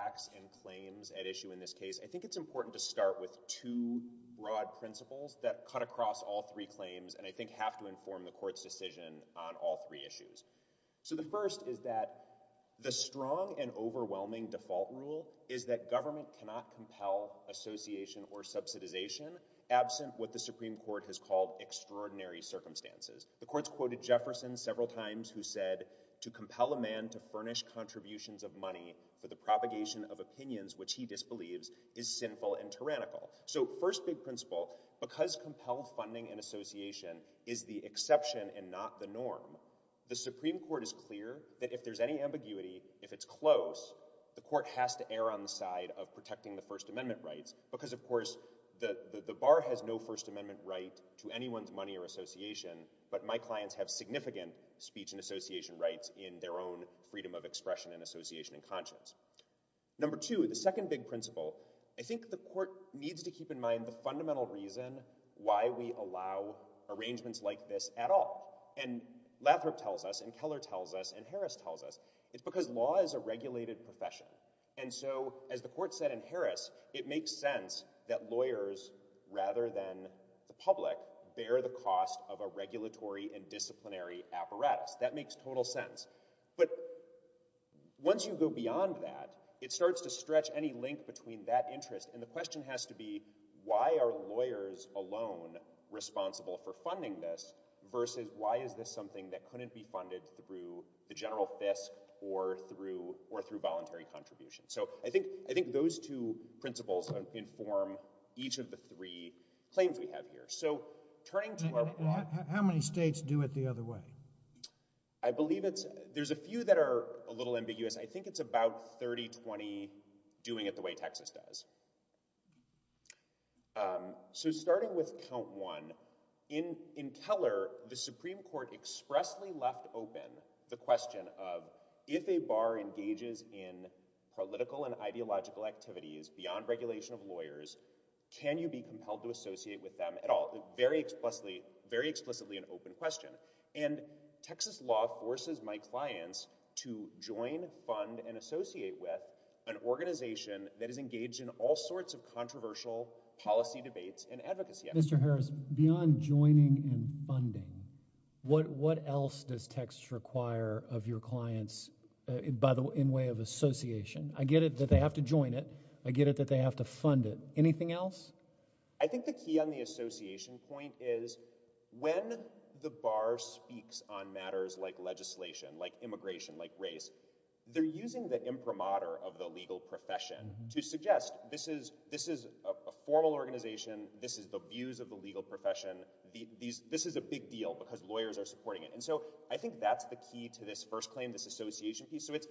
acts and claims at issue in this case. I think it's important to start with two broad principles that cut across all three claims and I think have to inform the court's decision on all three issues. So the first is that the strong and overwhelming default rule is that government cannot compel association or subsidization absent what the Supreme Court has called extraordinary circumstances. The courts quoted Jefferson several times who said to compel a man to make a decision of opinions which he disbelieves is sinful and tyrannical. So first big principle, because compelled funding and association is the exception and not the norm, the Supreme Court is clear that if there's any ambiguity, if it's close, the court has to err on the side of protecting the First Amendment rights because of course the bar has no First Amendment right to anyone's money or association but my clients have significant speech and association rights in their own freedom of expression and association and conscience. Number two, the second big principle, I think the court needs to keep in mind the fundamental reason why we allow arrangements like this at all and Lathrop tells us and Keller tells us and Harris tells us, it's because law is a regulated profession and so as the court said in Harris, it makes sense that lawyers rather than the public bear the cost of a regulatory and disciplinary apparatus. That makes total sense. But once you go beyond that, it starts to stretch any link between that interest and the question has to be why are lawyers alone responsible for funding this versus why is this something that couldn't be funded through the general Fisk or through voluntary contributions. So I think those two principles inform each of the three claims we have here. So turning to our plot. How many states do it the other way? I believe there's a few that are a little ambiguous. I think it's about 30, 20 doing it the way Texas does. So starting with count one, in Keller, the Supreme Court expressly left open the question of if a bar engages in political and ideological activities beyond regulation of lawyers, can you be compelled to associate with them at all? Very explicitly, very explicitly an open question and Texas law forces my clients to join, fund and associate with an organization that is engaged in all sorts of controversial policy debates and advocacy. Mr. Harris, beyond joining and funding, what what else does Texas require of your clients by the way in way of association? I get it that they have to join it. I get it that they have to fund it. Anything else? I think the key on the association point is when the bar speaks on matters like legislation, like immigration, like race, they're using the imprimatur of the legal profession to suggest this is this is a formal organization. This is the views of the legal profession. This is a big deal because lawyers are supporting it. And so I think that's the key to this first claim, this association piece. So it's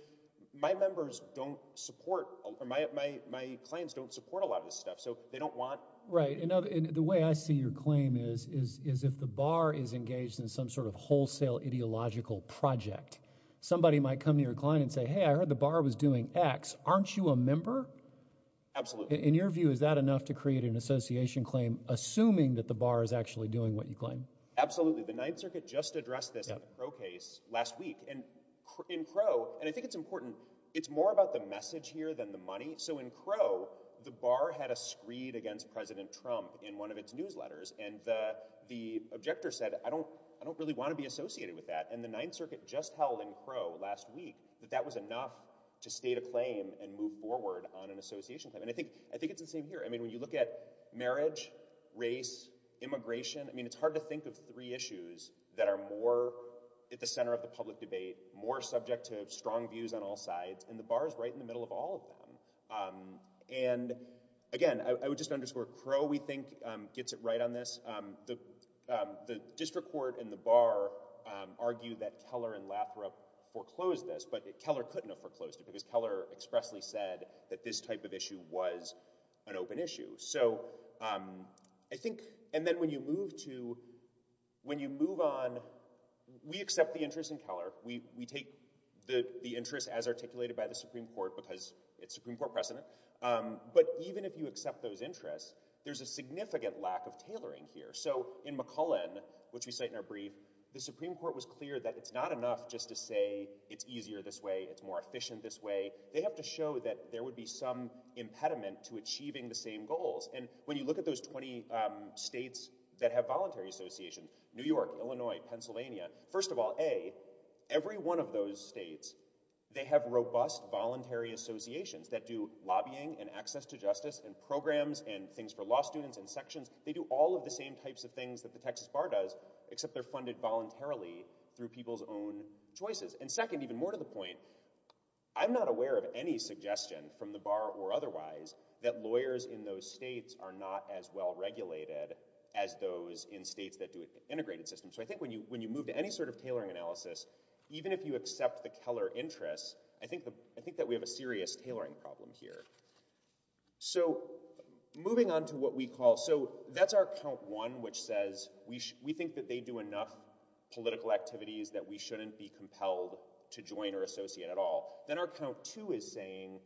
my members don't support or my my my clients don't support a lot of this stuff, so they don't want. Right. And the way I see your claim is is is if the bar is engaged in some sort of wholesale ideological project, somebody might come to your client and say, hey, I heard the bar was doing X. Aren't you a member? Absolutely. In your view, is that enough to create an association claim, assuming that the bar is actually doing what you claim? Absolutely. The Ninth Circuit just addressed this pro case last week and in pro. And I it's more about the message here than the money. So in pro, the bar had a screed against President Trump in one of its newsletters. And the the objector said, I don't I don't really want to be associated with that. And the Ninth Circuit just held in pro last week that that was enough to state a claim and move forward on an association. And I think I think it's the same here. I mean, when you look at marriage, race, immigration, I mean, it's hard to think of three issues that are more at the center of the public debate, more subject to strong views on all sides. And the bar is right in the middle of all of them. And again, I would just underscore pro, we think, gets it right on this. The the district court and the bar argue that Keller and Lathrop foreclosed this, but Keller couldn't have foreclosed it because Keller expressly said that this type of issue was an open issue. So I think and then when you move to when you move on, we accept the interest in Keller. We we take the the interest as articulated by the Supreme Court because it's Supreme Court precedent. But even if you accept those interests, there's a significant lack of tailoring here. So in McCullen, which we cite in our brief, the Supreme Court was clear that it's not enough just to say it's easier this way, it's more efficient this way. They have to show that there would be some impediment to achieving the same goals. And when you look at those 20 states that have voluntary associations, New York, Illinois, Pennsylvania, first of all, a every one of those states, they have robust voluntary associations that do lobbying and access to justice and programs and things for law students and sections. They do all of the same types of things that the Texas bar does, except they're funded voluntarily through people's own choices. And second, even more to the point, I'm not aware of any suggestion from the bar or otherwise, that lawyers in those states are not as well regulated as those in states that do an integrated system. So I think when you when you move to any sort of tailoring analysis, even if you accept the Keller interests, I think that we have a serious tailoring problem here. So moving on to what we call, so that's our count one, which says we think that they do enough political activities that we shouldn't be compelled to join or associate at all. Then our count two is saying,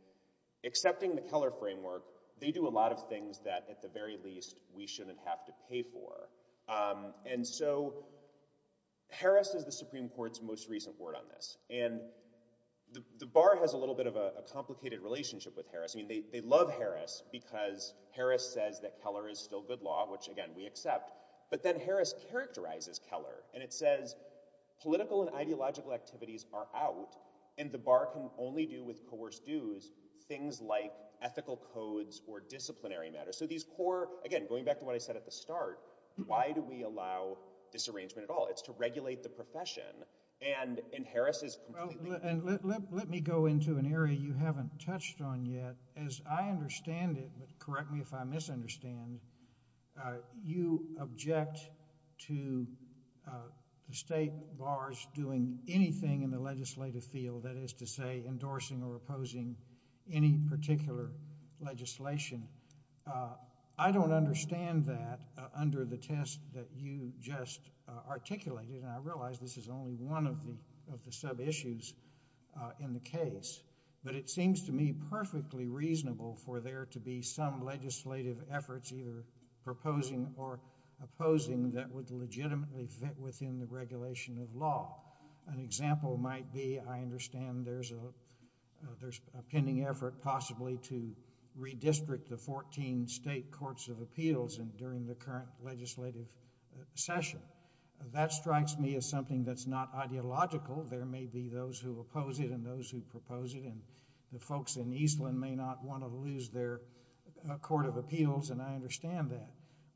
accepting the Keller framework, they do a lot of things that at the very least, we shouldn't have to pay for. And so Harris is the Supreme Court's most recent word on this. And the bar has a little bit of a complicated relationship with Harris. I mean, they love Harris, because Harris says that Keller is still good law, which again, we accept. But then Harris characterizes Keller, and it says, political and ideological activities are out. And the bar can only do with coerced dues, things like ethical codes or disciplinary matters. So these core again, going back to what I said at the start, why do we allow disarrangement at all? It's to regulate the profession. And in Harris's and let me go into an area you haven't touched on yet, as I understand it, but correct me if I misunderstand. You object to the state bars doing anything in the legislative field, that is to say endorsing or opposing any particular legislation. I don't understand that under the test that you just articulated. And I realize this is only one of the sub-issues in the case. But it seems to me perfectly reasonable for there to be some legislative efforts either proposing or opposing that would legitimately fit within the regulation of law. An example might be, I understand there's a pending effort possibly to redistrict the 14 state courts of appeals during the current legislative session. That strikes me as something that's not ideological. There may be those who oppose it and those who propose it. And the folks in Eastland may not want to lose their court of appeals, and I understand that.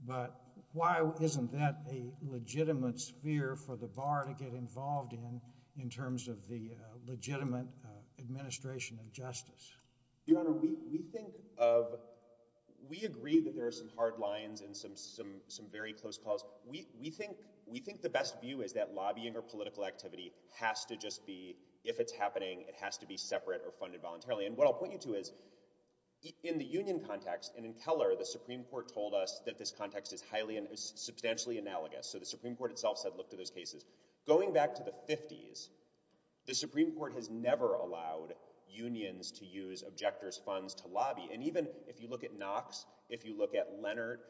But why isn't that a legitimate sphere for the bar to get involved in, in terms of the legitimate administration of justice? Your Honor, we think of, we agree that there are some hard lines and some very close calls. We think the best view is that lobbying or political activity has to just be, if it's happening, it has to be separate or funded voluntarily. And what I'll point you to is, in the union context and in Keller, the Supreme Court told us that this context is highly and substantially analogous. So the Supreme Court itself said, look to those cases. Going back to the fifties, the Supreme Court has never allowed unions to use objectors funds to lobby. And even if you look at Knox, if you look at Leonard.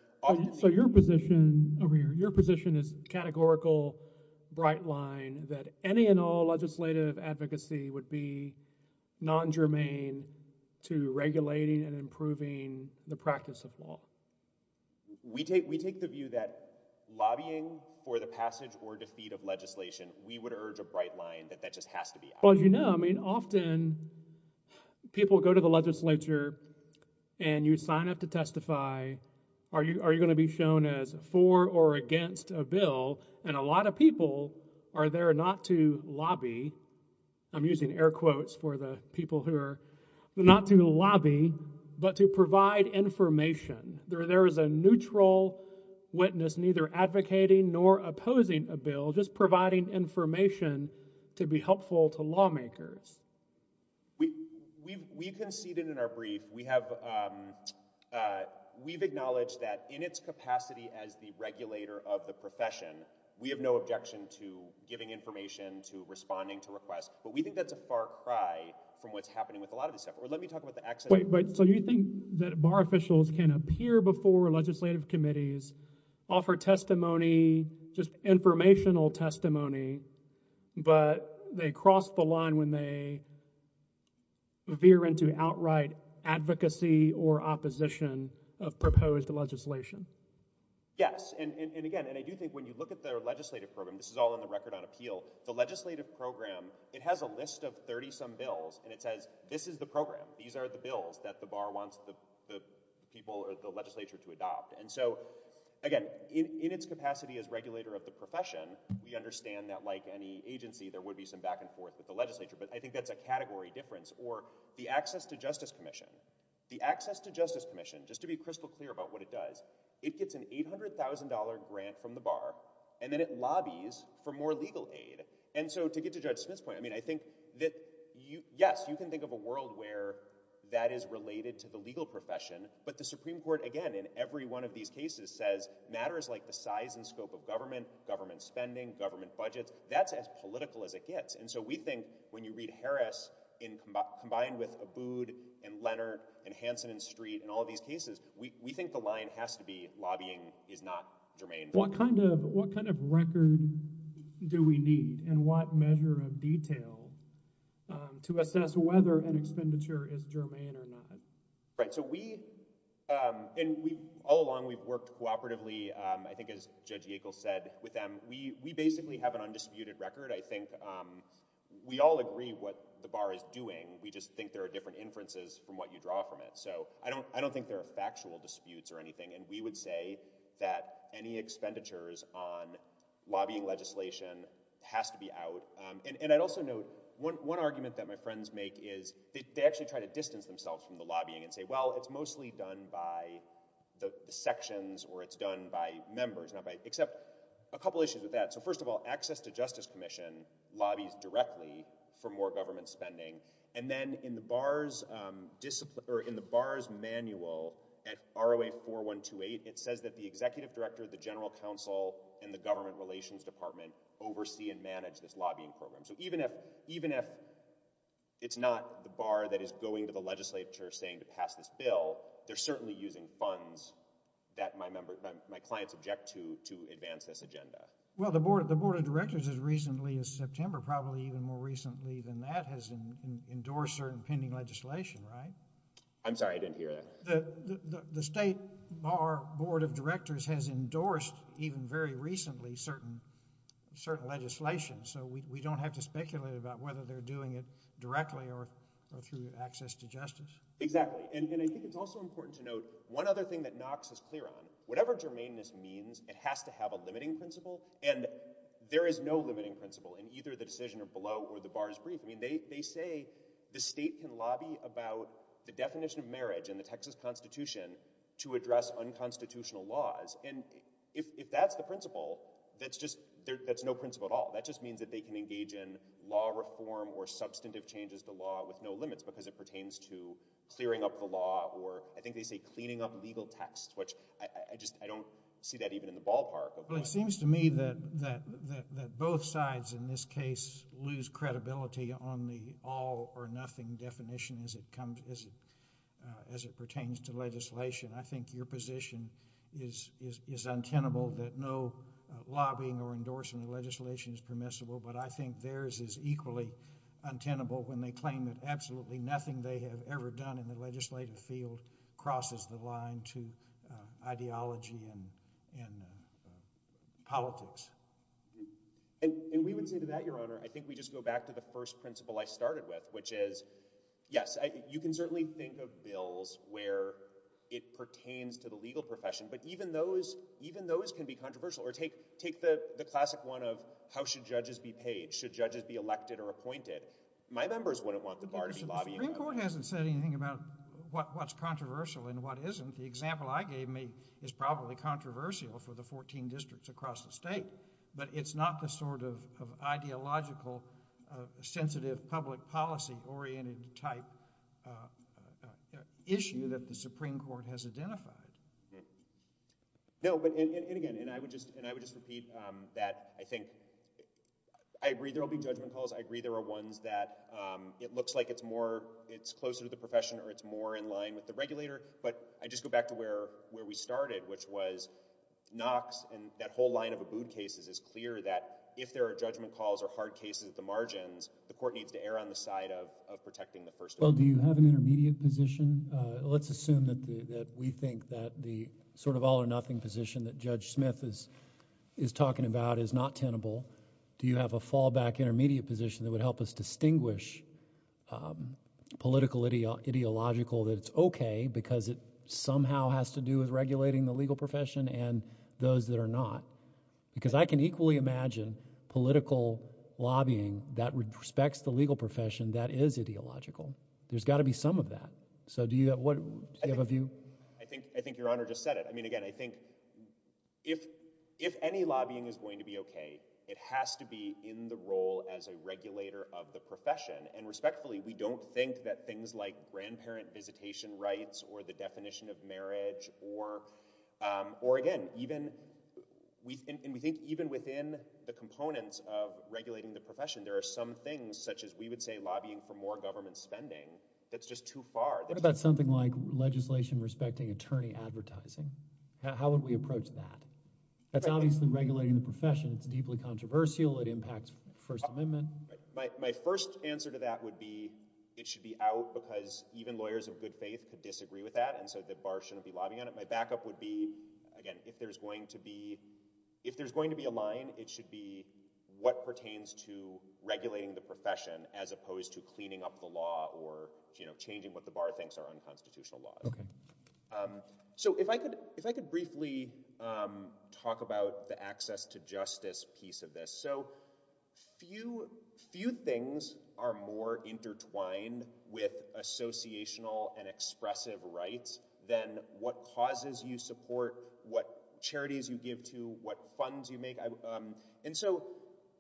So your position over here, your position is categorical bright line that any and all legislative advocacy would be non-germane to regulating and improving the practice of law. We take, we take the view that lobbying for the passage or defeat of legislation, we would urge a bright line that that just has to be. Well, you know, I mean, often people go to the legislature and you sign up to testify. Are you, are you going to be shown as for or against a bill? And a lot of people are there not to lobby. I'm using air quotes for the people who are not to lobby, but to provide information there. There is a neutral witness, neither advocating nor opposing a bill, just providing information to be helpful to lawmakers. We, we, we conceded in our brief, we have, um, uh, we've acknowledged that in its capacity as the regulator of the profession, we have no objection to giving information to responding to requests, but we think that's a far cry from what's happening with a lot of this stuff. Or let me talk about the accident. Wait, wait. So you think that bar officials can appear before legislative committees, offer testimony, just informational testimony, but they crossed the line when they veer into outright advocacy or opposition of proposed legislation? Yes. And, and, and again, and I do think when you look at their legislative program, it has a list of 30 some bills and it says, this is the program. These are the bills that the bar wants the people or the legislature to adopt. And so again, in its capacity as regulator of the profession, we understand that like any agency, there would be some back and forth with the legislature, but I think that's a category difference or the access to justice commission, the access to justice commission, just to be crystal clear about what it does, it gets an $800,000 grant from the bar and then it lobbies for more legal aid. And so to get to judge Smith's point, I mean, I think that you, yes, you can think of a world where that is related to the legal profession, but the Supreme Court, again, in every one of these cases says matters like the size and scope of government, government spending, government budgets, that's as political as it gets. And so we think when you read Harris in combined with a booed and Leonard and Hanson and street and all these cases, we think the line has to be lobbying is not germane. What kind of, what kind of record do we need and what measure of detail, um, to assess whether an expenditure is germane or not? Right. So we, um, and we all along we've worked cooperatively. Um, I think as Judge Yackel said with them, we, we basically have an undisputed record. I think, um, we all agree what the bar is doing. We just think there are different inferences from what you draw from it. So I don't, I don't think there are factual disputes or anything. And we would say that any expenditures on lobbying legislation has to be out. Um, and, and I'd also note one, one argument that my friends make is they actually try to distance themselves from the lobbying and say, well, it's mostly done by the sections or it's done by members, not by, except a couple issues with that. So first of all, access to justice commission lobbies directly for more government spending. And then in the bars, um, discipline or in the bars manual at ROA 4128, it says that the government relations department oversee and manage this lobbying program. So even if, even if it's not the bar that is going to the legislature saying to pass this bill, they're certainly using funds that my member, my clients object to, to advance this agenda. Well, the board, the board of directors has recently as September, probably even more recently than that has endorsed certain pending legislation, right? I'm sorry, I didn't hear that. The state bar board of directors has endorsed even very recently certain, certain legislation. So we, we don't have to speculate about whether they're doing it directly or through access to justice. Exactly. And, and I think it's also important to note one other thing that Knox is clear on, whatever germaneness means, it has to have a limiting principle and there is no limiting principle in either the decision of below or the bars brief. I mean, they, they say the state can lobby about the definition of marriage and the Texas constitution to address unconstitutional laws. And if, if that's the principle, that's just, that's no principle at all. That just means that they can engage in law reform or substantive changes to law with no limits because it pertains to clearing up the law or I think they say cleaning up legal texts, which I just, I don't see that even in the ballpark. Well, it seems to me that, that, that, that both sides in this case lose credibility on the all or nothing definition as it comes, as it, as it pertains to legislation. I think your position is, is, is untenable that no lobbying or endorsement of legislation is permissible, but I think theirs is equally untenable when they claim that absolutely nothing they have ever done in the legislative field crosses the line to ideology and, and politics. And we would say to that, your honor, I think we just go back to the first principle I started with, which is yes, you can certainly think of bills where it pertains to the legal profession, but even those, even those can be controversial or take, take the classic one of how should judges be paid? Should judges be elected or appointed? My members wouldn't want the bar to be lobbying. The Supreme Court hasn't said anything about what, what's controversial and what isn't. The example I gave me is probably controversial for the 14 districts across the state, but it's not the sort of, of ideological, uh, sensitive public policy oriented type, uh, uh, issue that the Supreme Court has identified. No, but and, and again, and I would just, and I would just repeat, um, that I think, I agree there'll be judgment calls. I agree there are ones that, um, it looks like it's more, it's closer to the profession or it's more in line with the regulator, but I just go back to where, where we started, which was Knox and that whole line of Abood cases is clear that if there are judgment calls or hard cases at the margins, the court needs to err on the side of, of protecting the first. Well, do you have an intermediate position? Uh, let's assume that the, that we think that the sort of all or nothing position that Judge Smith is, is talking about is not tenable. Do you have a fallback intermediate position that would help us distinguish, um, political idea, ideological that it's okay because it somehow has to do with regulating the legal profession and those that are not? Because I can equally imagine political lobbying that respects the legal profession that is ideological. There's gotta be some of that. So do you have, what, do you have a view? I think, I think Your Honor just said it. I mean, again, I think if, if any lobbying is going to be of the profession and respectfully, we don't think that things like grandparent visitation rights or the definition of marriage or, um, or again, even we, and we think even within the components of regulating the profession, there are some things such as we would say lobbying for more government spending. That's just too far. What about something like legislation respecting attorney advertising? How would we approach that? That's obviously regulating the profession. It's deeply My, my first answer to that would be it should be out because even lawyers of good faith could disagree with that. And so the bar shouldn't be lobbying on it. My backup would be, again, if there's going to be, if there's going to be a line, it should be what pertains to regulating the profession as opposed to cleaning up the law or, you know, changing what the bar thinks are unconstitutional laws. Um, so if I could, if I could briefly, um, talk about the access to justice piece of this. So few, few things are more intertwined with associational and expressive rights than what causes you support, what charities you give to, what funds you make. Um, and so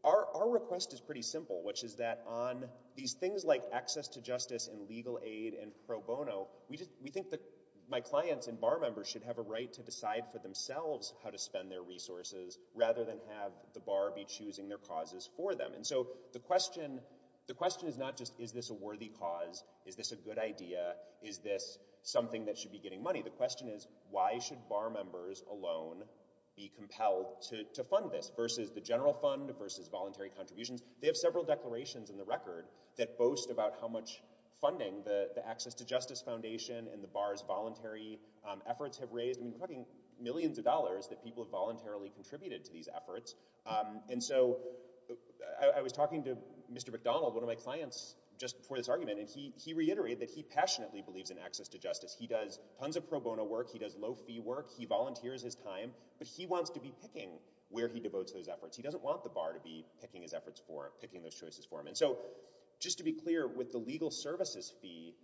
our, our request is pretty simple, which is that on these things like access to justice and legal aid and pro bono, we just, we think that my clients and bar members should have a right to decide for themselves how to spend their resources rather than have the bar be choosing their causes for them. And so the question, the question is not just, is this a worthy cause? Is this a good idea? Is this something that should be getting money? The question is, why should bar members alone be compelled to fund this versus the general fund versus voluntary contributions? They have several declarations in the record that boast about how much funding the millions of dollars that people have voluntarily contributed to these efforts. Um, and so I was talking to Mr. McDonald, one of my clients just before this argument, and he, he reiterated that he passionately believes in access to justice. He does tons of pro bono work. He does low fee work. He volunteers his time, but he wants to be picking where he devotes those efforts. He doesn't want the bar to be picking his efforts for picking those choices for him. And so just to be clear with the legal services fee,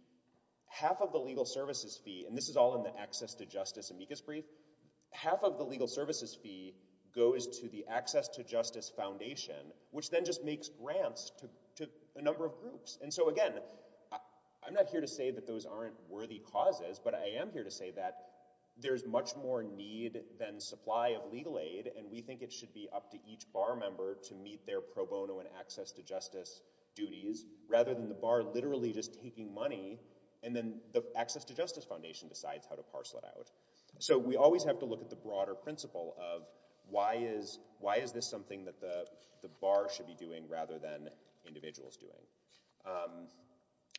half of the legal services fee, and this is all in the access to justice brief, half of the legal services fee goes to the access to justice foundation, which then just makes grants to a number of groups. And so again, I'm not here to say that those aren't worthy causes, but I am here to say that there's much more need than supply of legal aid. And we think it should be up to each bar member to meet their pro bono and access to justice duties rather than the bar literally just taking money. And then the access to justice foundation decides how to parcel it out. So we always have to look at the broader principle of why is, why is this something that the bar should be doing rather than individuals doing?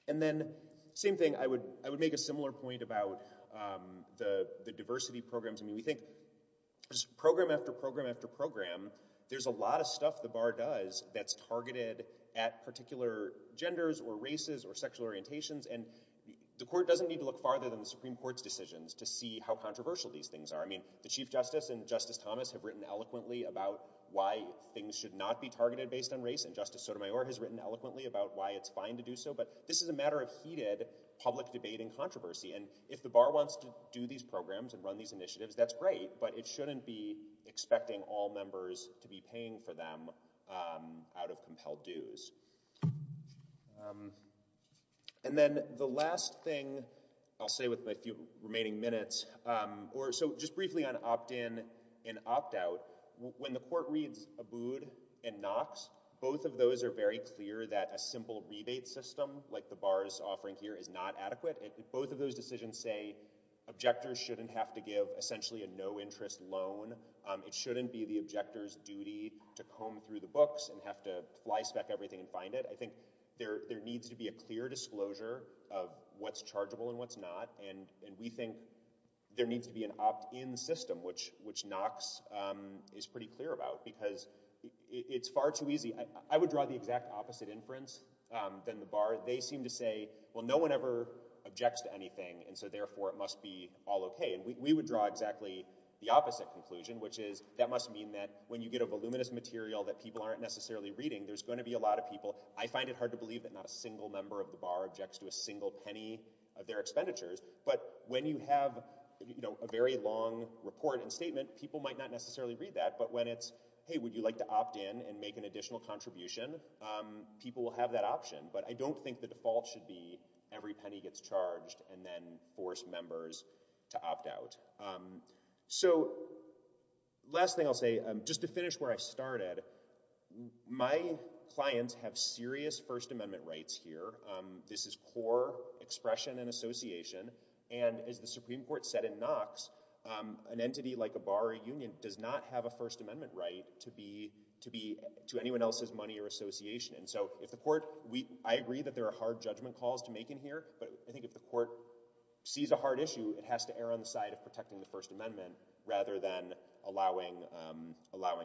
And then same thing, I would, I would make a similar point about the, the diversity programs. I mean, we think program after program after program, there's a lot of stuff the bar does that's targeted at particular genders or races or sexual orientations. And the court doesn't need to look farther than the Supreme court's decisions to see how controversial these things are. I mean, the chief justice and justice Thomas have written eloquently about why things should not be targeted based on race and justice Sotomayor has written eloquently about why it's fine to do so. But this is a matter of heated public debate and controversy. And if the bar wants to do these programs and run these initiatives, that's great, but it shouldn't be expecting all members to be paying for them out of compelled dues. And then the last thing I'll say with my few remaining minutes, or so just briefly on opt-in and opt-out when the court reads Abood and Knox, both of those are very clear that a simple rebate system like the bars offering here is not adequate. Both of those decisions say objectors shouldn't have to give essentially a no interest loan. It shouldn't be the objector's duty to comb through the books and have to fly spec everything and find it. I think there needs to be a clear disclosure of what's chargeable and what's not. And we think there needs to be an opt-in system, which Knox is pretty clear about because it's far too easy. I would draw the exact opposite inference than the bar. They seem to say, well, no one ever objects to anything. And so therefore it must be all okay. And we would exactly the opposite conclusion, which is that must mean that when you get a voluminous material that people aren't necessarily reading, there's going to be a lot of people. I find it hard to believe that not a single member of the bar objects to a single penny of their expenditures. But when you have a very long report and statement, people might not necessarily read that. But when it's, hey, would you like to opt in and make an additional contribution? People will have that option. But I don't think the default should be every penny gets charged and then forced members to opt out. So last thing I'll say, just to finish where I started, my clients have serious first amendment rights here. This is core expression and association. And as the Supreme Court said in Knox, an entity like a bar or union does not have a first amendment right to be to anyone else's money or association. And so if the court, I agree that there are hard judgment calls to make in here. But I think if the court sees a hard issue, it has to err on the side of protecting the first amendment rather than allowing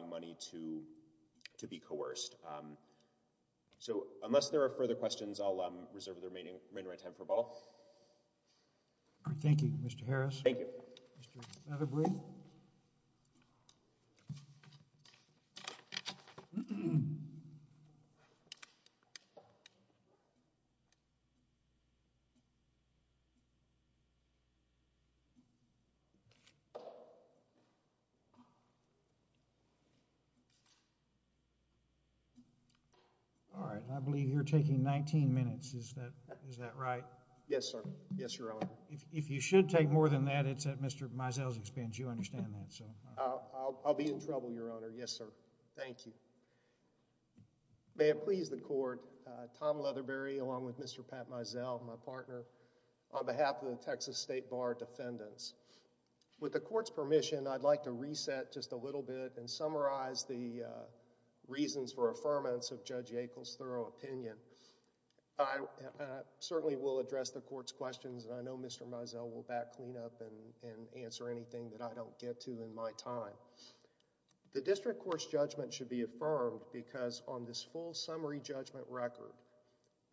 money to be coerced. So unless there are further questions, I'll reserve the remaining time for a ball. Thank you, Mr. Harris. Thank you. All right. I believe you're taking 19 minutes. Is that is that right? Yes, sir. Yes, your honor. If you should take more than that, it's at Mr. Meisel's expense. You understand that. So I'll be in trouble, your honor. Yes, sir. Thank you. May it please the court. Tom Leatherberry, along with Mr. Pat Meisel, my partner on behalf of the Texas State Bar defendants. With the court's permission, I'd like to reset just a little bit and summarize the reasons for affirmance of Judge Yackel's thorough opinion. I certainly will address the court's questions. I know Mr. Meisel will back clean up and answer anything that I don't get to in my time. The district court's judgment should be affirmed because on this full summary judgment record,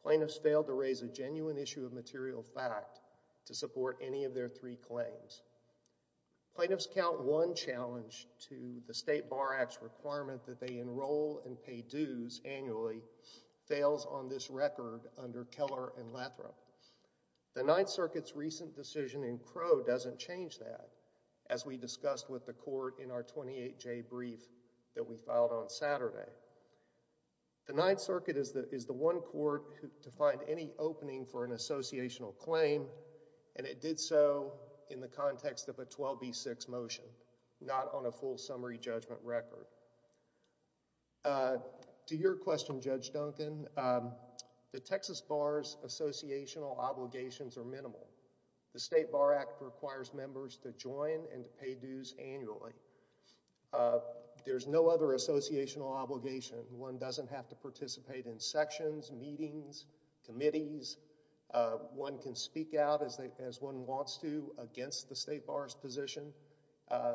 plaintiffs failed to raise a genuine issue of material fact to support any of their three claims. Plaintiffs count one challenge to the State Bar Act's requirement that they enroll and pay dues annually fails on this record under Keller and Lathrop. The Ninth Circuit's recent decision in Crow doesn't change that, as we discussed with the court in our 28-J brief that we filed on Saturday. The Ninth Circuit is the one court to find any opening for an associational claim, and it did so in the context of a 12B6 motion, not on a full summary judgment record. To your question, Judge Duncan, the Texas Bar's associational obligations are minimal. The State Bar Act requires members to join and pay dues annually. There's no other associational obligation. One doesn't have to participate in sections, meetings, committees. One can speak out as one wants to against the State Bar's position,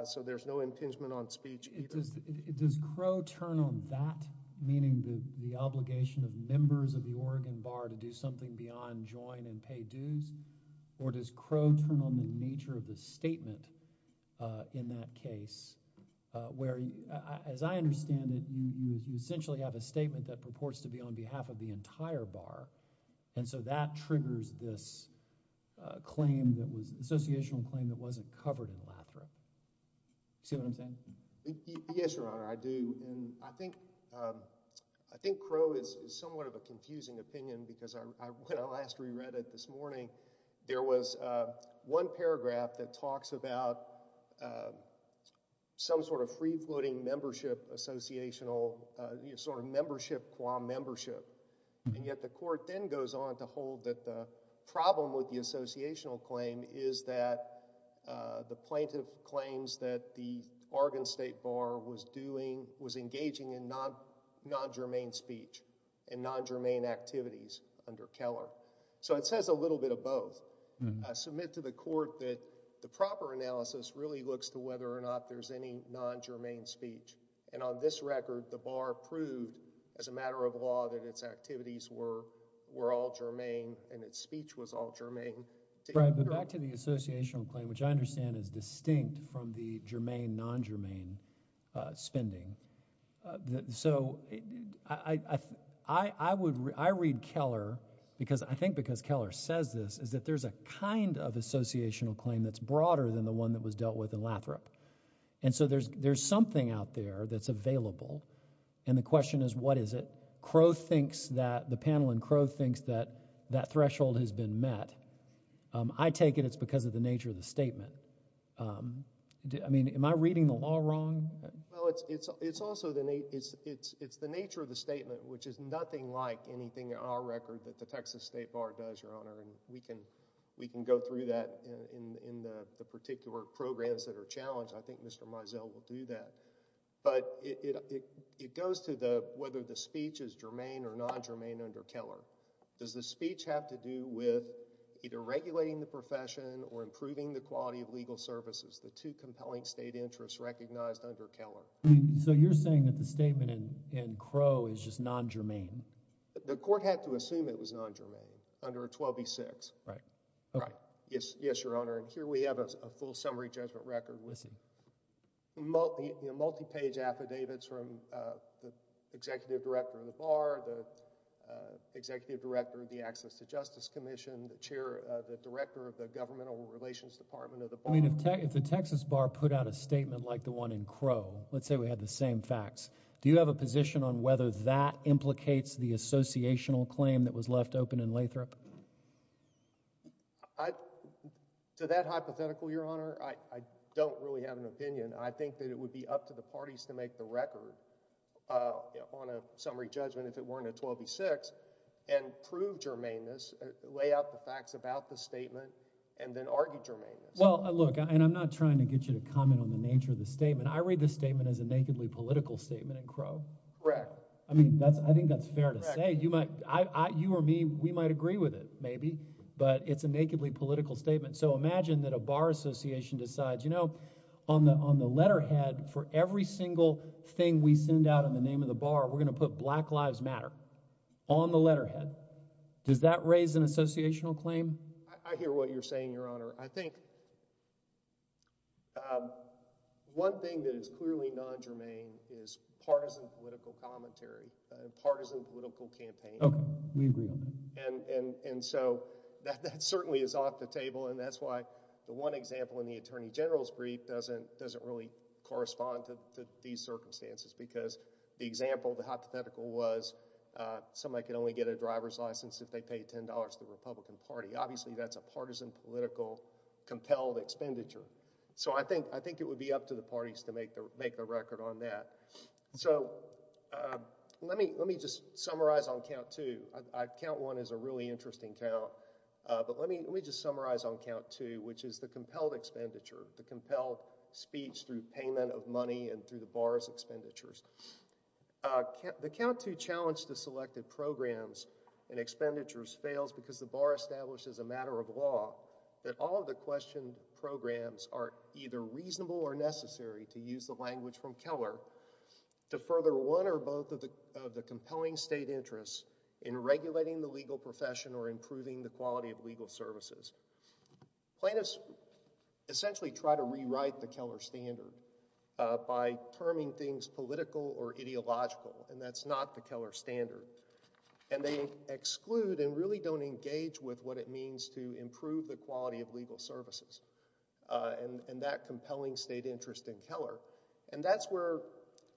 so there's no impingement on speech either. Does Crow turn on that, meaning the obligation of or does Crow turn on the nature of the statement in that case where, as I understand it, you essentially have a statement that purports to be on behalf of the entire bar, and so that triggers this claim that was associational claim that wasn't covered in Lathrop. See what I'm saying? Yes, Your Honor, I do, and I think Crow is somewhat of a confusing opinion because when I last reread it this morning, there was one paragraph that talks about some sort of free-floating membership associational, sort of membership qua membership, and yet the court then goes on to hold that the problem with the associational claim is that the plaintiff claims that the Oregon State Bar was doing, was engaging in non-germane speech and non-germane activities under Keller, so it says a little bit of both. I submit to the court that the proper analysis really looks to whether or not there's any non-germane speech, and on this record, the bar proved as a matter of law that its activities were were all germane and its speech was all germane. Right, but back to the associational claim, which I understand is distinct from the germane, non-germane spending, so I read Keller because I think because Keller says this, is that there's a kind of associational claim that's broader than the one that was dealt with in Lathrop, and so there's something out there that's available, and the question is what is it? Crow thinks that the panel and Crow thinks that that threshold has been met. I take it it's because of the nature of the statement. I mean, am I reading the law wrong? Well, it's also the nature of the statement, which is nothing like anything on our record that the Texas State Bar does, Your Honor, and we can go through that in the particular programs that are challenged. I think Mr. Mizell will do that, but it goes to whether the speech is germane or non-germane under Keller. Does the speech have to do with either regulating the or improving the quality of legal services, the two compelling state interests recognized under Keller? So you're saying that the statement in Crow is just non-germane. The court had to assume it was non-germane under 12b-6. Right. Yes, Your Honor, and here we have a full summary judgment record with multi-page affidavits from the Executive Director of the Bar, the Executive Director of the Access to Justice Commission, the Director of the Governmental Relations Department of the Bar. I mean, if the Texas Bar put out a statement like the one in Crow, let's say we had the same facts, do you have a position on whether that implicates the associational claim that was left open in Lathrop? To that hypothetical, Your Honor, I don't really have an opinion. I think that it would be up to the parties to make the record on a summary judgment, if it weren't a 12b-6, and prove germaneness, lay out the facts about the statement, and then argue germaneness. Well, look, and I'm not trying to get you to comment on the nature of the statement. I read the statement as a nakedly political statement in Crow. Correct. I mean, I think that's fair to say. You or me, we might agree with it, maybe, but it's a nakedly political statement. So imagine that a bar association decides, you know, on the letterhead for every single thing we send out in the name of the bar, we're going to put Black Lives Matter on the letterhead. Does that raise an associational claim? I hear what you're saying, Your Honor. I think one thing that is clearly non-germane is partisan political commentary, partisan political campaign. Okay, we agree on that. And so that certainly is off the table, and that's why the one example in the Attorney General's brief doesn't really correspond to these circumstances, because the example, the hypothetical, was somebody could only get a driver's license if they paid $10 to the Republican Party. Obviously, that's a partisan political compelled expenditure. So I think it would be up to the parties to make the record on that. So let me just summarize on count two, which is the compelled expenditure, the compelled speech through payment of money and through the bar's expenditures. The count two challenge to selected programs and expenditures fails because the bar establishes a matter of law that all of the questioned programs are either reasonable or necessary to use the language from Keller to further one or both of the compelling state interests in regulating the legal profession or improving the quality of legal services. Plaintiffs essentially try to rewrite the Keller standard by terming things political or ideological, and that's not the Keller standard. And they exclude and really don't engage with what it means to improve the quality of legal services and that compelling state interest in Keller. And that's where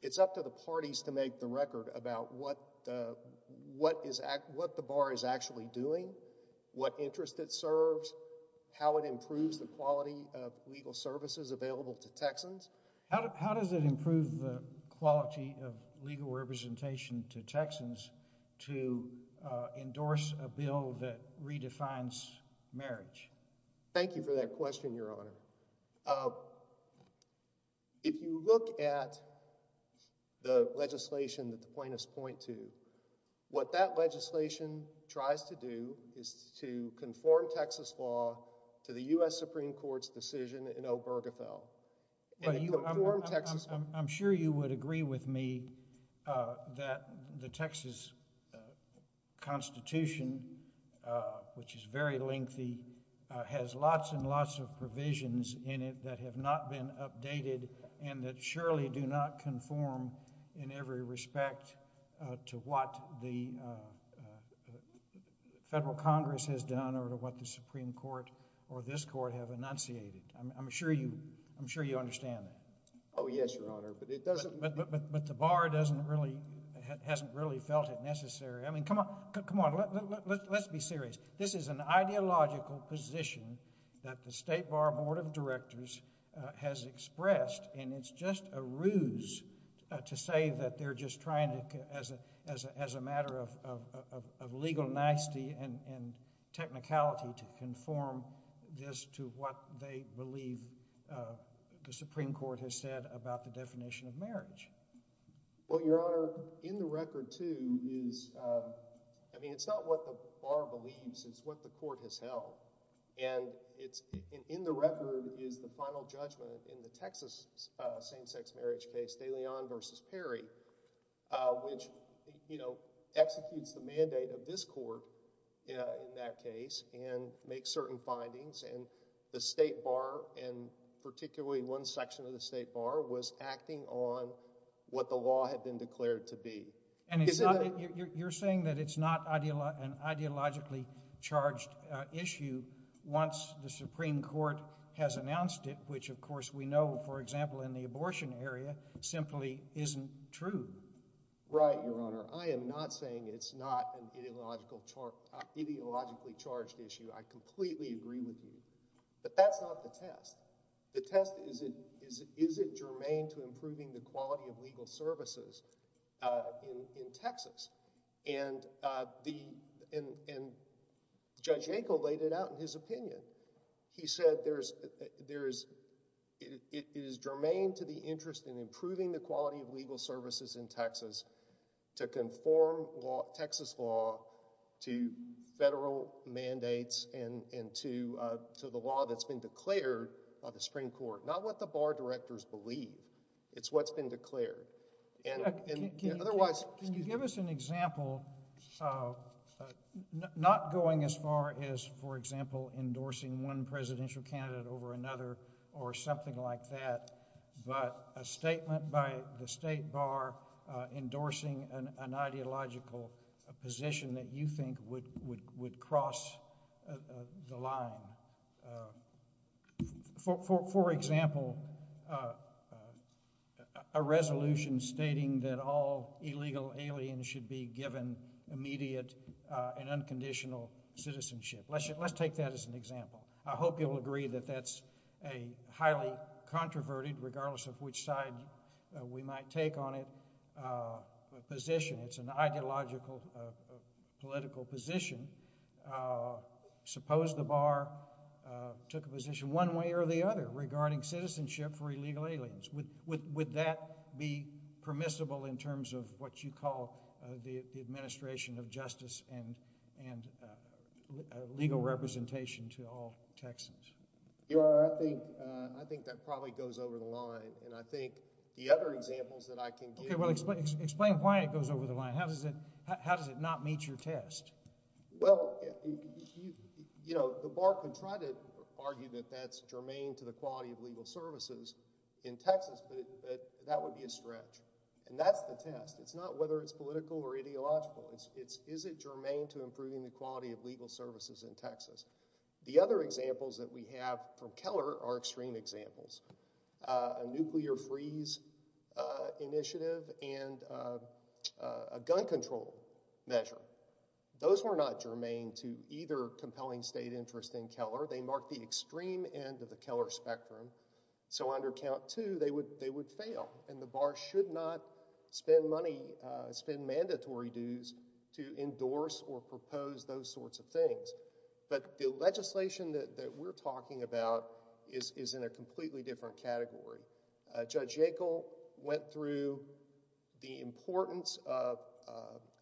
it's up to the parties to make the record about what the bar is actually doing, what interest it serves, how it improves the quality of legal services available to Texans. How does it improve the quality of legal representation to Texans to endorse a bill that redefines marriage? Thank you for that question, Your Honor. If you look at the legislation that the plaintiffs point to, what that legislation tries to do is to conform Texas law to the U.S. Supreme Court's decision in Obergefell. But I'm sure you would agree with me that the Texas Constitution, which is very lengthy, has lots and lots of provisions in it that have not been updated and that surely do not conform in every respect to what the federal Congress has done or to what the Supreme Court or this Court have enunciated. I'm sure you understand that. Oh, yes, Your Honor. But the bar hasn't really felt it necessary. I mean, come on, let's be serious. This is an ideological position that the State Bar Board of Directors has expressed, and it's just a ruse to say that they're just trying to, as a matter of legal nicety and technicality, to conform this to what they believe the Supreme Court has said about the definition of marriage. Well, Your Honor, in the record, too, is, I mean, it's not what the bar believes, it's what the court has held. And in the record is the final judgment in the Texas same-sex marriage case, De Leon v. Perry, which, you know, executes the mandate of this court in that case and makes certain findings. And the State Bar, and particularly one section of the State Bar, was acting on what the law had been declared to be. And you're saying that it's not an ideologically charged issue once the Supreme Court has announced it, which, of course, we know, for example, in the abortion area, simply isn't true. Right, Your Honor. I am not saying it's not an ideologically charged issue. I completely agree with you. But that's not the test. The test is, is it germane to improving the quality of legal services in Texas? And Judge Yankel laid it out in his opinion. He said it is germane to the Texas, to conform Texas law to federal mandates and to the law that's been declared by the Supreme Court, not what the bar directors believe. It's what's been declared. And otherwise— Can you give us an example, not going as far as, for example, endorsing one presidential endorsing an ideological position that you think would cross the line? For example, a resolution stating that all illegal aliens should be given immediate and unconditional citizenship. Let's take that as an example. I hope you'll agree that that's a highly controverted, regardless of which side we might take on it, position. It's an ideological, political position. Suppose the bar took a position one way or the other regarding citizenship for illegal aliens. Would that be permissible in terms of what you call the administration of justice and legal representation to all Texans? Your Honor, I think that probably goes over the line. And I think the other examples that I can give— Okay, well, explain why it goes over the line. How does it not meet your test? Well, you know, the bar can try to argue that that's germane to the quality of legal services in Texas, but that would be a stretch. And that's the test. It's not whether it's political or ideological. It's is it germane to improving the quality of legal services in Texas? The other examples that we have from Keller are extreme examples. A nuclear freeze initiative and a gun control measure. Those were not germane to either compelling state interest in Keller. They marked the extreme end of the Keller spectrum. So under count two, they would fail, and the bar should not spend money, spend mandatory dues to endorse or propose those sorts of things. But the legislation that we're talking about is in a completely different category. Judge Yackel went through the importance of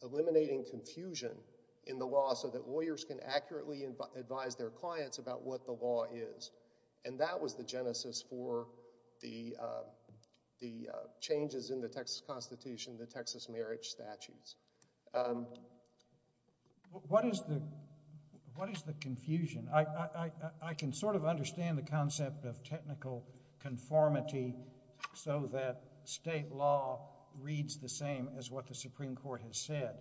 eliminating confusion in the law so that lawyers can accurately advise their clients about what the law is. And that was the genesis for the changes in the Texas Constitution, the Texas marriage statutes. What is the confusion? I can sort of understand the concept of technical conformity so that state law reads the same as what the Supreme Court has said.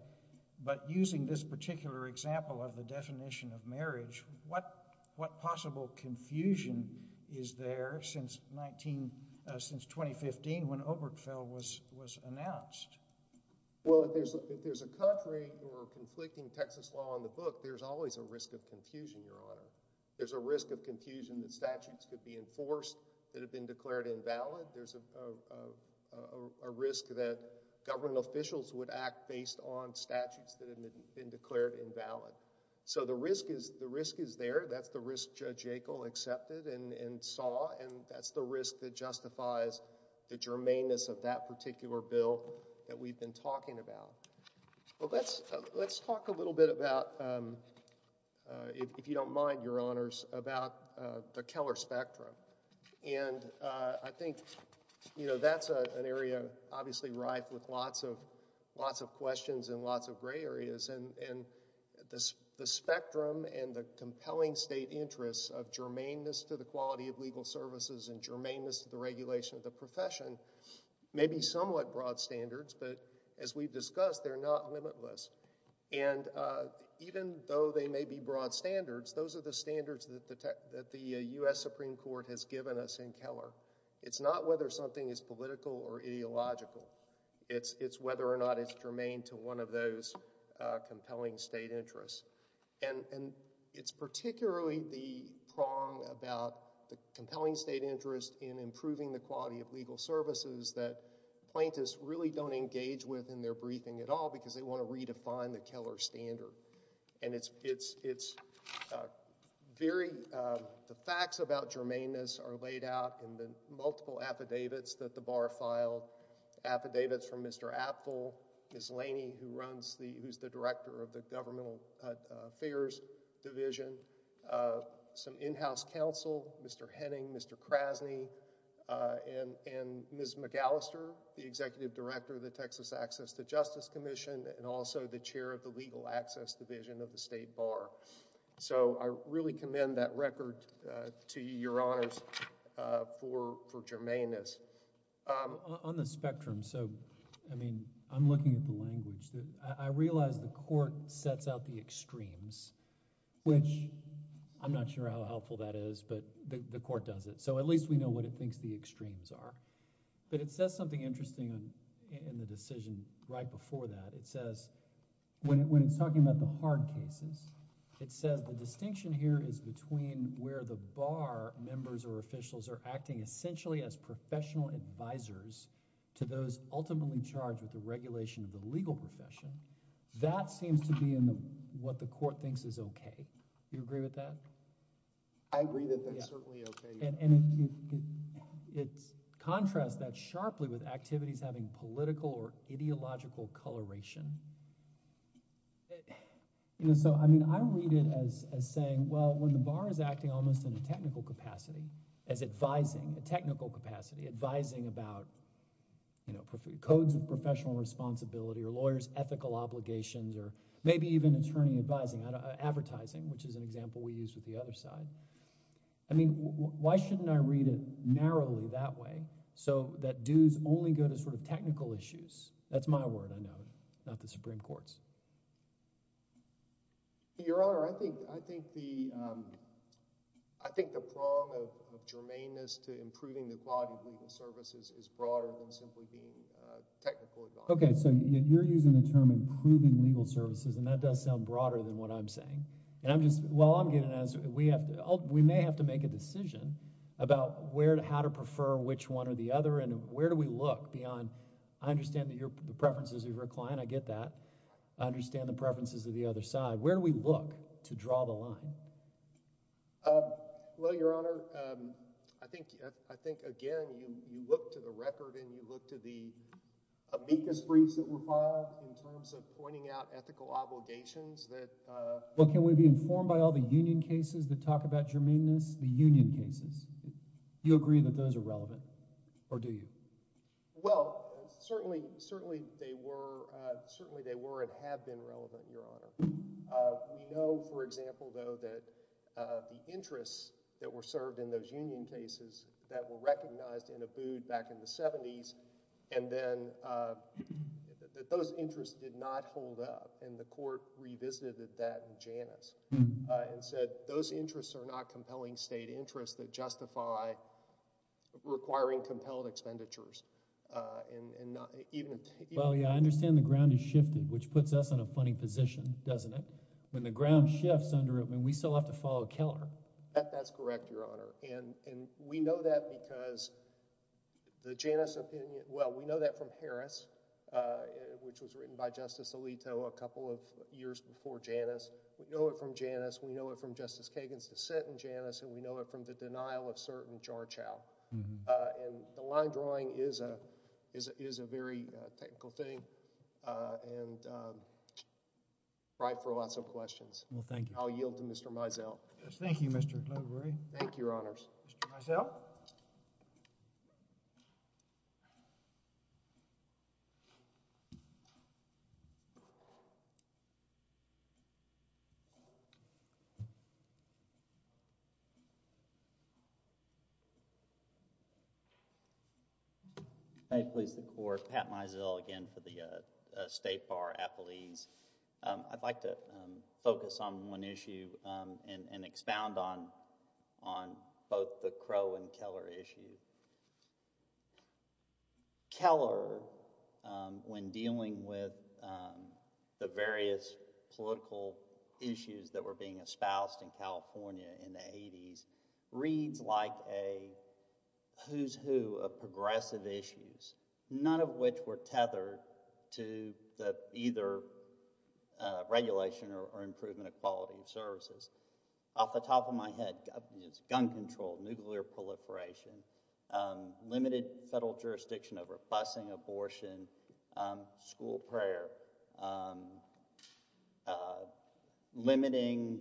But using this particular example of the definition of marriage, what possible confusion is there since 2015 when Obergefell was announced? Well, if there's a country or conflicting Texas law in the book, there's always a risk of confusion, Your Honor. There's a risk of confusion that statutes could be enforced that have been declared invalid. There's a risk that government officials would act based on statutes that have been declared invalid. So the risk is there. That's the risk Judge Yackel accepted and saw, and that's the risk that justifies the germaneness of that particular bill that we've been talking about. Well, let's talk a little bit about, if you don't mind, Your Honors, about the Keller spectrum. And I think, you know, that's an area obviously rife with lots of questions and lots of gray areas. And the spectrum and the compelling state interests of germaneness to the quality of legal services and germaneness to the regulation of the profession may be somewhat broad standards, but as we've discussed, they're not limitless. And even though they may be broad standards, those are the standards that the U.S. Supreme Court has given us in Keller. It's not whether something is political or ideological. It's whether or not it's germane to one of those compelling state interests. And it's particularly the prong about the compelling state interest in improving the quality of legal services that plaintiffs really don't engage with in their briefing at all, because they want to redefine the Keller standard. And it's very, the facts about germaneness are laid out in the multiple affidavits that the Bar filed, affidavits from Mr. Apfel, Ms. Laney, who runs the, who's the Director of the Governmental Affairs Division, some in-house counsel, Mr. Henning, Mr. Krasny, and Ms. McAllister, the Executive Director of the Texas Access to Justice Commission, and also the Chair of the Legal Access Division of the State Bar. So I really commend that I'm looking at the language. I realize the Court sets out the extremes, which I'm not sure how helpful that is, but the Court does it. So at least we know what it thinks the extremes are. But it says something interesting in the decision right before that. It says, when it's talking about the hard cases, it says the distinction here is between where the Bar members or officials are acting essentially as professional advisors to those ultimately charged with the regulation of the legal profession. That seems to be in what the Court thinks is okay. Do you agree with that? I agree that that's certainly okay. And it contrasts that sharply with activities having political or ideological coloration. You know, so I mean, I read it as as saying, well, when the Bar is acting almost in a professional capacity, advising about, you know, codes of professional responsibility or lawyers' ethical obligations, or maybe even attorney advising, advertising, which is an example we used with the other side. I mean, why shouldn't I read it narrowly that way so that dues only go to sort of technical issues? That's my word, I know, not the Supreme Court's. Your Honor, I think the prong of germaneness to improving the quality of legal services is broader than simply being technical. Okay, so you're using the term improving legal services, and that does sound broader than what I'm saying. And I'm just, while I'm getting at it, we have to, we may have to make a decision about where, how to prefer which one or the other, and where do we look beyond, I understand that the preferences of your client, I get that, I understand the preferences of the other side. Where do we look to draw the line? Well, Your Honor, I think, I think, again, you look to the record and you look to the amicus briefs that were filed in terms of pointing out ethical obligations that. Well, can we be informed by all the union cases that talk about germaneness, the union cases? Do you agree that those are relevant, or do you? Well, certainly, certainly they were, certainly they were and have been relevant, Your Honor. We know, for example, though, that the interests that were served in those union cases that were recognized in a boot back in the 70s, and then that those interests did not hold up, and the court revisited that in Janus, and said those interests are not compelling state interests that justify requiring compelled expenditures, and not even... Well, yeah, I understand the ground has shifted, which puts us in a funny position, doesn't it? When the ground shifts under it, I mean, we still have to follow Keller. That's correct, Your Honor, and we know that because the Janus opinion, well, we know that from Harris, which was written by Justice Alito a couple of years before Janus. We know it from Joseph House. However, we know that investigations through the system of bail of certain jarchaus, and the line drawing is a very technical thing, and I'm bright for lots questions. Thank you. I'll yield to Mr. Mosel. Thank you. Thank you, Your Honors. Mr. Mosel. May it please the Court, Pat Mosel again for the State Bar Appellees. I'd like to focus on one issue and expound on both the Crow and Keller issue. Keller, when dealing with the various political issues that were being espoused in California in the 80s, reads like a who's who of progressive issues, none of which were tethered to either regulation or improvement of quality of services. Off the top of my head, gun control, nuclear proliferation, limited federal jurisdiction over busing, abortion, school prayer, limiting,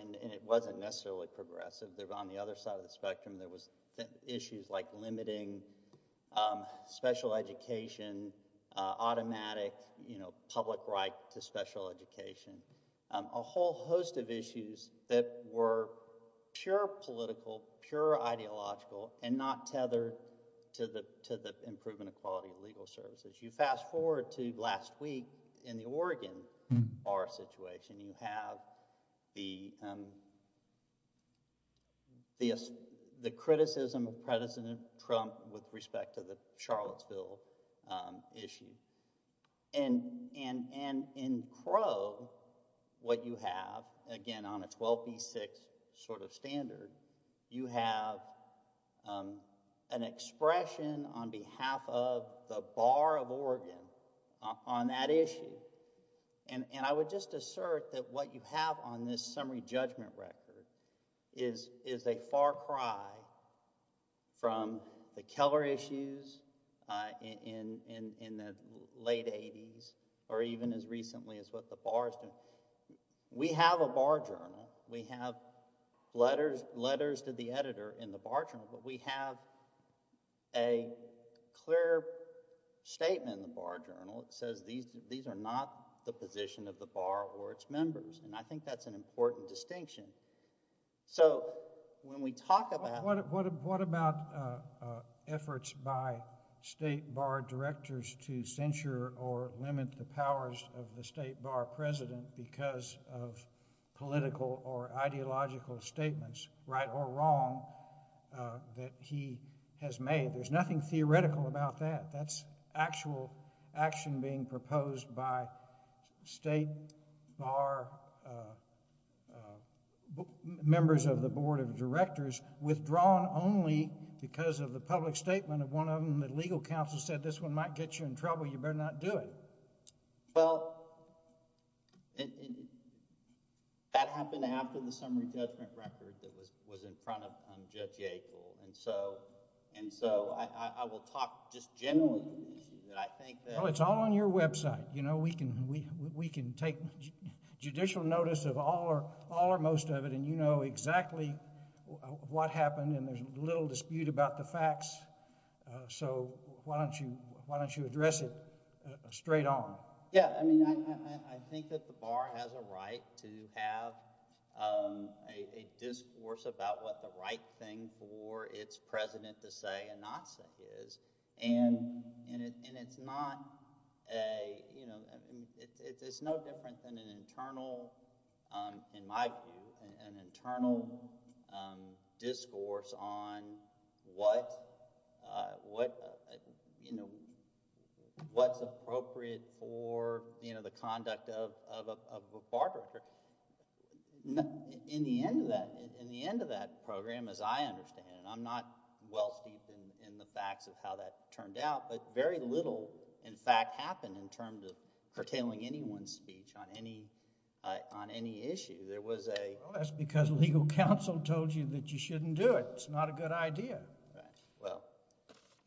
and it wasn't necessarily progressive. On the other side of the spectrum, there was issues like limiting special education, automatic, you know, public right to special education, a whole host of issues that were pure political, pure ideological, and not tethered to the improvement of quality of legal services. You fast forward to last week in the Oregon Bar situation, you have the criticism of President Trump with respect to the Charlottesville issue, and in Crow, what you have, again on a 12B6 sort of standard, you have an expression on behalf of the Bar of Oregon on that issue, and I would just assert that what you have on this summary judgment record is a far cry from the Keller issues in the late 80s or even as recently as what the Bar is doing. We have a bar journal. We have letters to the editor in the bar journal, but we have a clear statement in the bar journal that says these are not the position of the bar or its members, and I think that's an important distinction. So, when we talk about... What about efforts by state bar directors to censure or limit the powers of the state bar president because of what he has made? There's nothing theoretical about that. That's actual action being proposed by state bar members of the board of directors withdrawn only because of the public statement of one of them. The legal counsel said this one might get you in trouble. You better not do it. Well, that happened after the summary judgment record that was in front of Judge Yackel, and so I will talk just generally. Well, it's all on your website. We can take judicial notice of all or most of it, and you know exactly what happened, and there's little dispute about the facts, so why don't you address it straight on? Yeah, I mean, I think that the bar has a right to have a discourse about what the right thing for its president to say and not say is, and it's no different than an internal, in my view, an internal discourse on what's appropriate for the conduct of a bar director. In the end of that program, as I understand it, I'm not well steeped in the facts of how that turned out, but very little, in fact, happened in terms of curtailing anyone's speech on any issue. That's because legal counsel told you that you shouldn't do it. It's not a good idea. Right.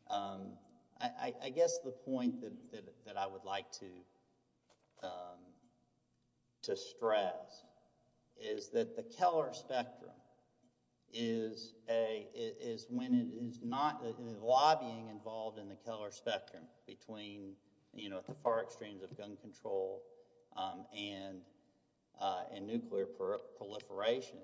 Well, I guess the point that I would like to stress is that the Keller spectrum is when it is not lobbying involved in the Keller spectrum between, you know, at the far extremes of gun control and nuclear proliferation.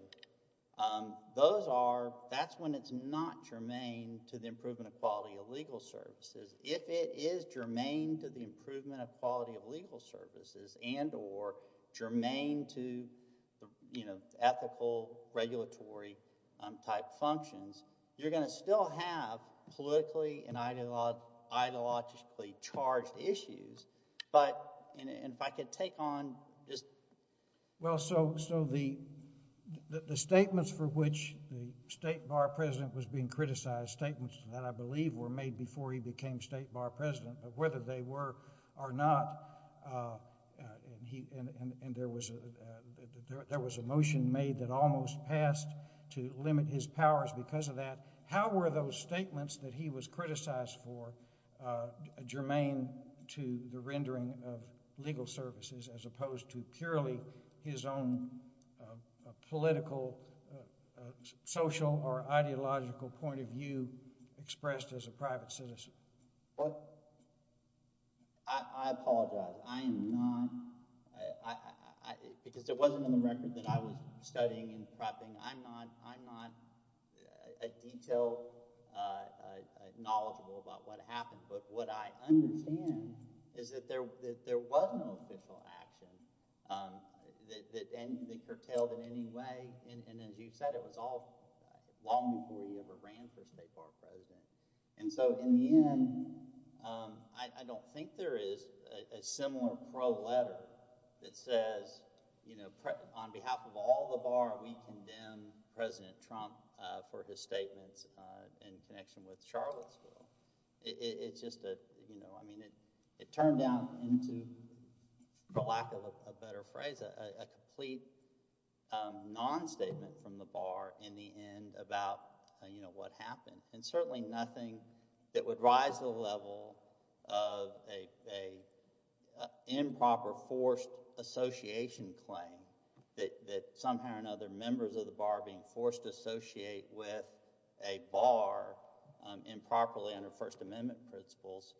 Those are, that's when it's not germane to the improvement of quality of legal services. If it is germane to the improvement of quality of legal services and or germane to, you know, ethical, regulatory type functions, you're going to still have politically and ideologically charged issues, but, and if I could take on this. Well, so the statements for which the state bar president was being criticized, statements that I believe were made before he became state bar president, whether they were or not, and he, and there was a, there was a motion made that almost passed to limit his powers because of that. How were those statements that he was criticized for germane to the rendering of legal services as opposed to purely his own political, uh, social or ideological point of view expressed as a private citizen? Well, I, I apologize. I am not, I, I, I, because it wasn't in the record that I was studying and prepping. I'm not, I'm not a detail, uh, uh, knowledgeable about what happened, but what I understand is that there, that there was no official action, um, that, that, and that curtailed any way. And, and as you've said, it was all long before he ever ran for state bar president. And so in the end, um, I, I don't think there is a similar pro letter that says, you know, on behalf of all the bar, we condemn president Trump, uh, for his statements, uh, in connection with Charlottesville. It's just a, you know, I mean, it, it turned down into the lack of a better phrase, a complete, um, non-statement from the bar in the end about, uh, you know, what happened and certainly nothing that would rise to the level of a, a, uh, improper forced association claim that, that somehow or another members of the bar being forced to associate with a bar, um, improperly under first amendment principles,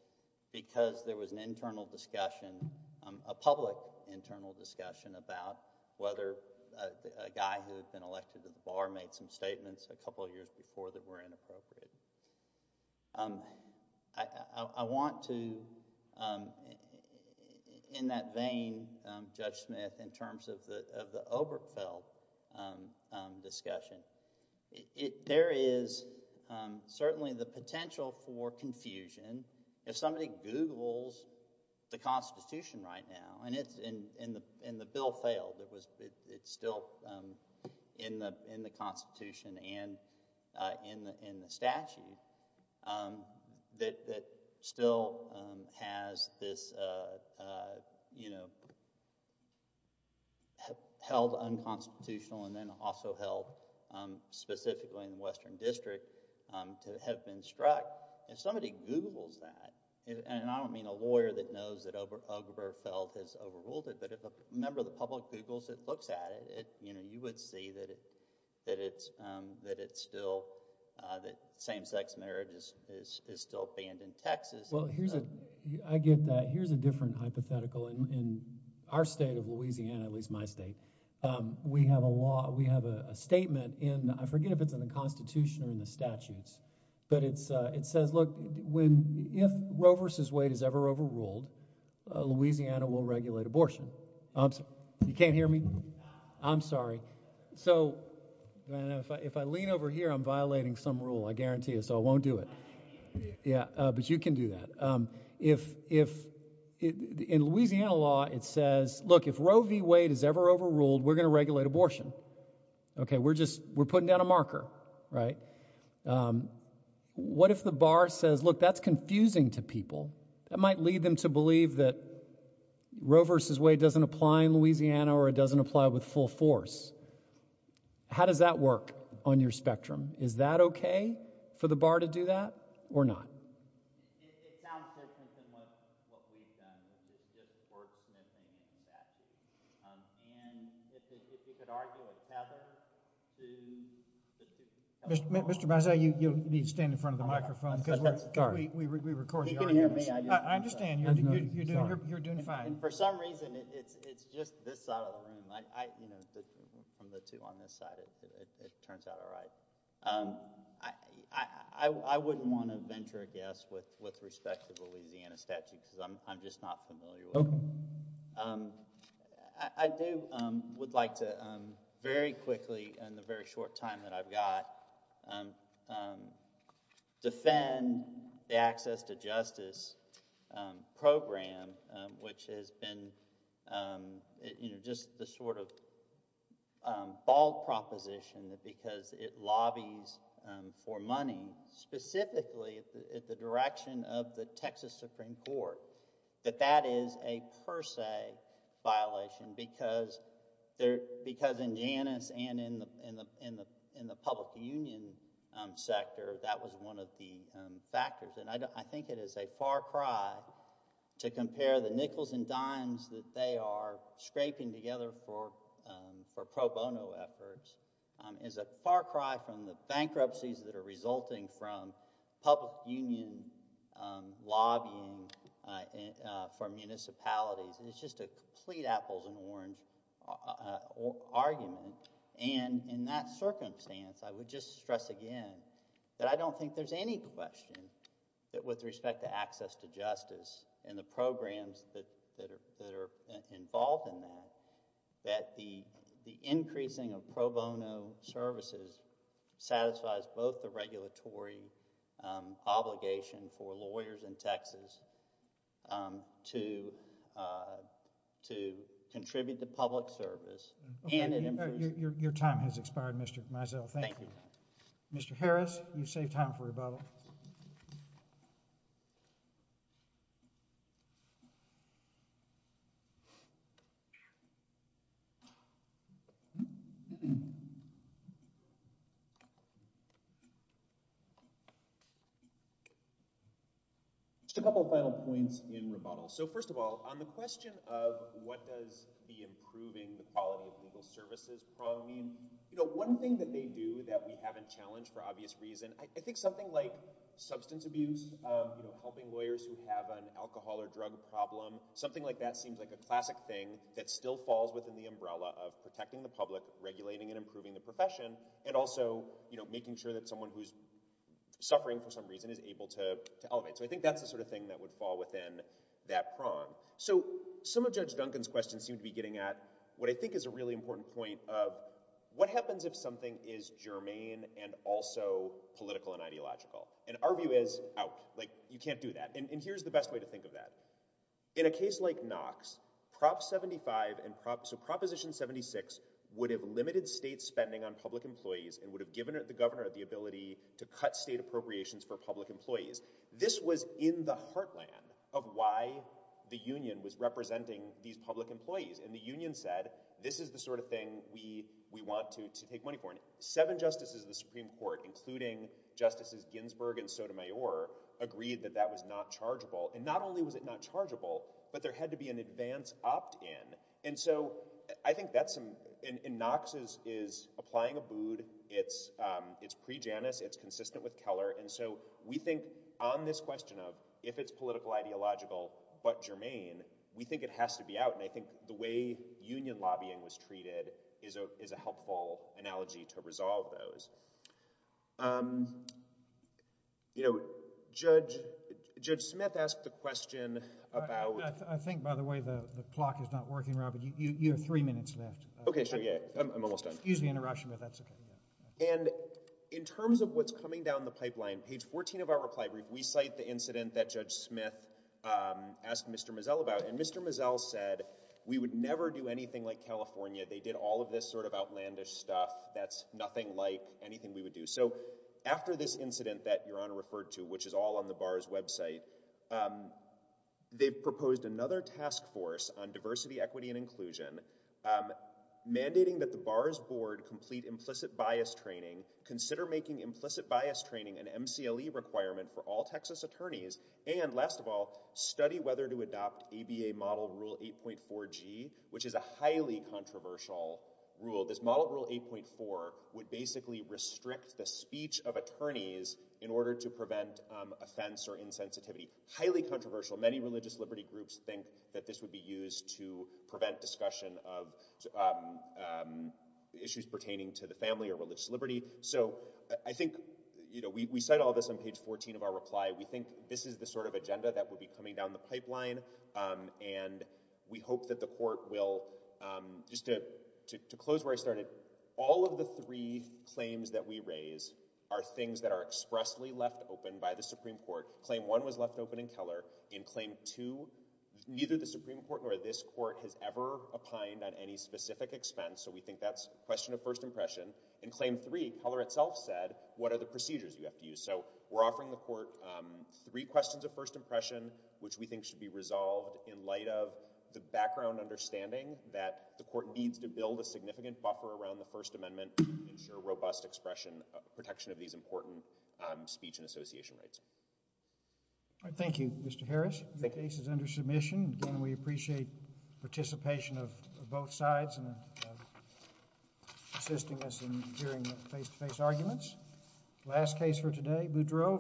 because there was an internal discussion, um, a public internal discussion about whether a guy who had been elected to the bar made some statements a couple of years before that were inappropriate. Um, I, I, I want to, um, in that vein, um, Judge Smith, in terms of the, of the Obergefell, um, um, discussion, it, it, there is, um, certainly the potential for confusion. If somebody Googles the Constitution right now, and it's in, in the, in the bill failed, it was, it, it's still, um, in the, in the Constitution and, uh, in the, in the statute, um, that, that still, um, has this, uh, you know, held unconstitutional and then also held, um, specifically in the Western District, um, to have been struck. If somebody Googles that, and, and I don't mean a lawyer that knows that Ober, Obergefell has overruled it, but if a member of the public Googles it, looks at it, it, you know, you would see that it, that it's, um, that it's still, uh, that same-sex marriage is, is, is still banned in Texas. Well, here's a, I get that. Here's a different hypothetical. In, in our state of Louisiana, at least my state, um, we have a law, we have a, a statement in, I forget if it's in the Constitution or in the statutes, but it's, uh, it says, look, when, if Roe versus Wade is ever overruled, uh, Louisiana will regulate abortion. I'm sorry, you can't hear me? I'm sorry. So, and if I, if I lean over here, I'm violating some rule, I guarantee you, so I won't do it. Yeah. Uh, but you can do that. Um, if, if in Louisiana law, it says, look, if Roe v. Wade is ever overruled, we're going to regulate abortion. Okay. We're just, we're putting down a marker, right? Um, what if the bar says, look, that's confusing to people that might lead them to believe that Roe versus Wade doesn't apply in Louisiana or it doesn't apply with full force? How does that work on your spectrum? Is that okay for the bar to do that or not? It, it sounds different than what, what we've done. It's just wordsmithing and that. Um, and if, if, if you could argue a tether to Mr., Mr., Mr. Bisset, you, you need to stand in front of the microphone because we're, we, we, we record the arguments. You can hear me? I, I understand you're, you're, you're, you're doing fine. And for some reason, it's, it's just this side of the room. I, I, you know, the, from the two on this side, it, it, it turns out all right. Um, I, I, I, I wouldn't want to venture a guess with, with respect to the Louisiana statute because I'm, I'm just not familiar with it. Um, I, I do, um, would like to, um, very quickly in the very short time that I've got, um, um, defend the Access to Justice, um, program, um, which has been, um, you know, just the sort of, um, bald proposition that because it lobbies, um, for money specifically at the, at the direction of the Texas Supreme Court, that that is a per se violation because there, because in Janus and in the, in the, in the, in the public union, um, sector, that was one of the, um, factors. And I don't, I think it is a far cry to compare the nickels and dimes that they are scraping together for, um, for pro bono efforts, um, is a far cry from the bankruptcies that are resulting from public union, um, lobbying, uh, uh, for municipalities. And it's just a complete apples and orange, uh, uh, argument. And in that circumstance, I would just stress again that I don't think there's any question that with respect to Access to Justice and the programs that, that are, that are involved in that, that the, the increasing of pro bono services satisfies both the regulatory, um, obligation for lawyers in Texas, um, to, uh, to contribute to public service and... Just a couple of final points in rebuttal. So first of all, on the question of what does the improving the quality of legal services probably mean, you know, one thing that they are doing is, um, you know, helping lawyers who have an alcohol or drug problem. Something like that seems like a classic thing that still falls within the umbrella of protecting the public, regulating and improving the profession, and also, you know, making sure that someone who's suffering for some reason is able to, to elevate. So I think that's the sort of thing that would fall within that prong. So some of Judge Duncan's questions seem to be getting at what I think is a really important point of what happens if something is germane and also political and ideological. And our view is out. Like, you can't do that. And, and here's the best way to think of that. In a case like Knox, Prop 75 and Prop... So Proposition 76 would have limited state spending on public employees and would have given the governor the ability to cut state appropriations for public employees. This was in the heartland of why the union was representing these public employees. And the union said, this is the sort of thing we, we want to, justices Ginsburg and Sotomayor agreed that that was not chargeable. And not only was it not chargeable, but there had to be an advance opt-in. And so I think that's some, and, and Knox is, is applying a bood. It's, it's pre-Janus. It's consistent with Keller. And so we think on this question of if it's political ideological, but germane, we think it has to be out. And I think the way union lobbying was treated is a, is a helpful analogy to resolve those. Um, you know, Judge, Judge Smith asked the question about... I think, by the way, the, the clock is not working, Robert. You, you, you have three minutes left. Okay. Sure. Yeah. I'm, I'm almost done. Excuse the interruption, but that's okay. And in terms of what's coming down the pipeline, page 14 of our reply brief, we cite the incident that Judge Smith, um, asked Mr. Mazzell about. And Mr. Mazzell said, we would never do anything like California. They did all of this sort of outlandish stuff. That's nothing like anything we would do. So after this incident that Your Honor referred to, which is all on the BAR's website, um, they've proposed another task force on diversity, equity, and inclusion, um, mandating that the BAR's board complete implicit bias training, consider making implicit bias training an MCLE requirement for all Texas attorneys, and last of all, study whether to implement the highly controversial rule. This Model Rule 8.4 would basically restrict the speech of attorneys in order to prevent, um, offense or insensitivity. Highly controversial. Many religious liberty groups think that this would be used to prevent discussion of, um, um, issues pertaining to the family or religious liberty. So I think, you know, we, we cite all this on page 14 of our reply. We think this is the sort of agenda that would be coming down the pipeline, um, and we the court will, um, just to, to, to close where I started, all of the three claims that we raise are things that are expressly left open by the Supreme Court. Claim 1 was left open in Keller. In Claim 2, neither the Supreme Court nor this court has ever opined on any specific expense, so we think that's a question of first impression. In Claim 3, Keller itself said, what are the procedures you have to use? So we're offering the court, um, three questions of first impression, which we think should be resolved in light of the background understanding that the court needs to build a significant buffer around the First Amendment to ensure robust expression, uh, protection of these important, um, speech and association rights. All right. Thank you, Mr. Harris. Thank you. The case is under submission. Again, we appreciate participation of, of both sides and assisting us in hearing face-to-face arguments. Last case for today, Boudreaux.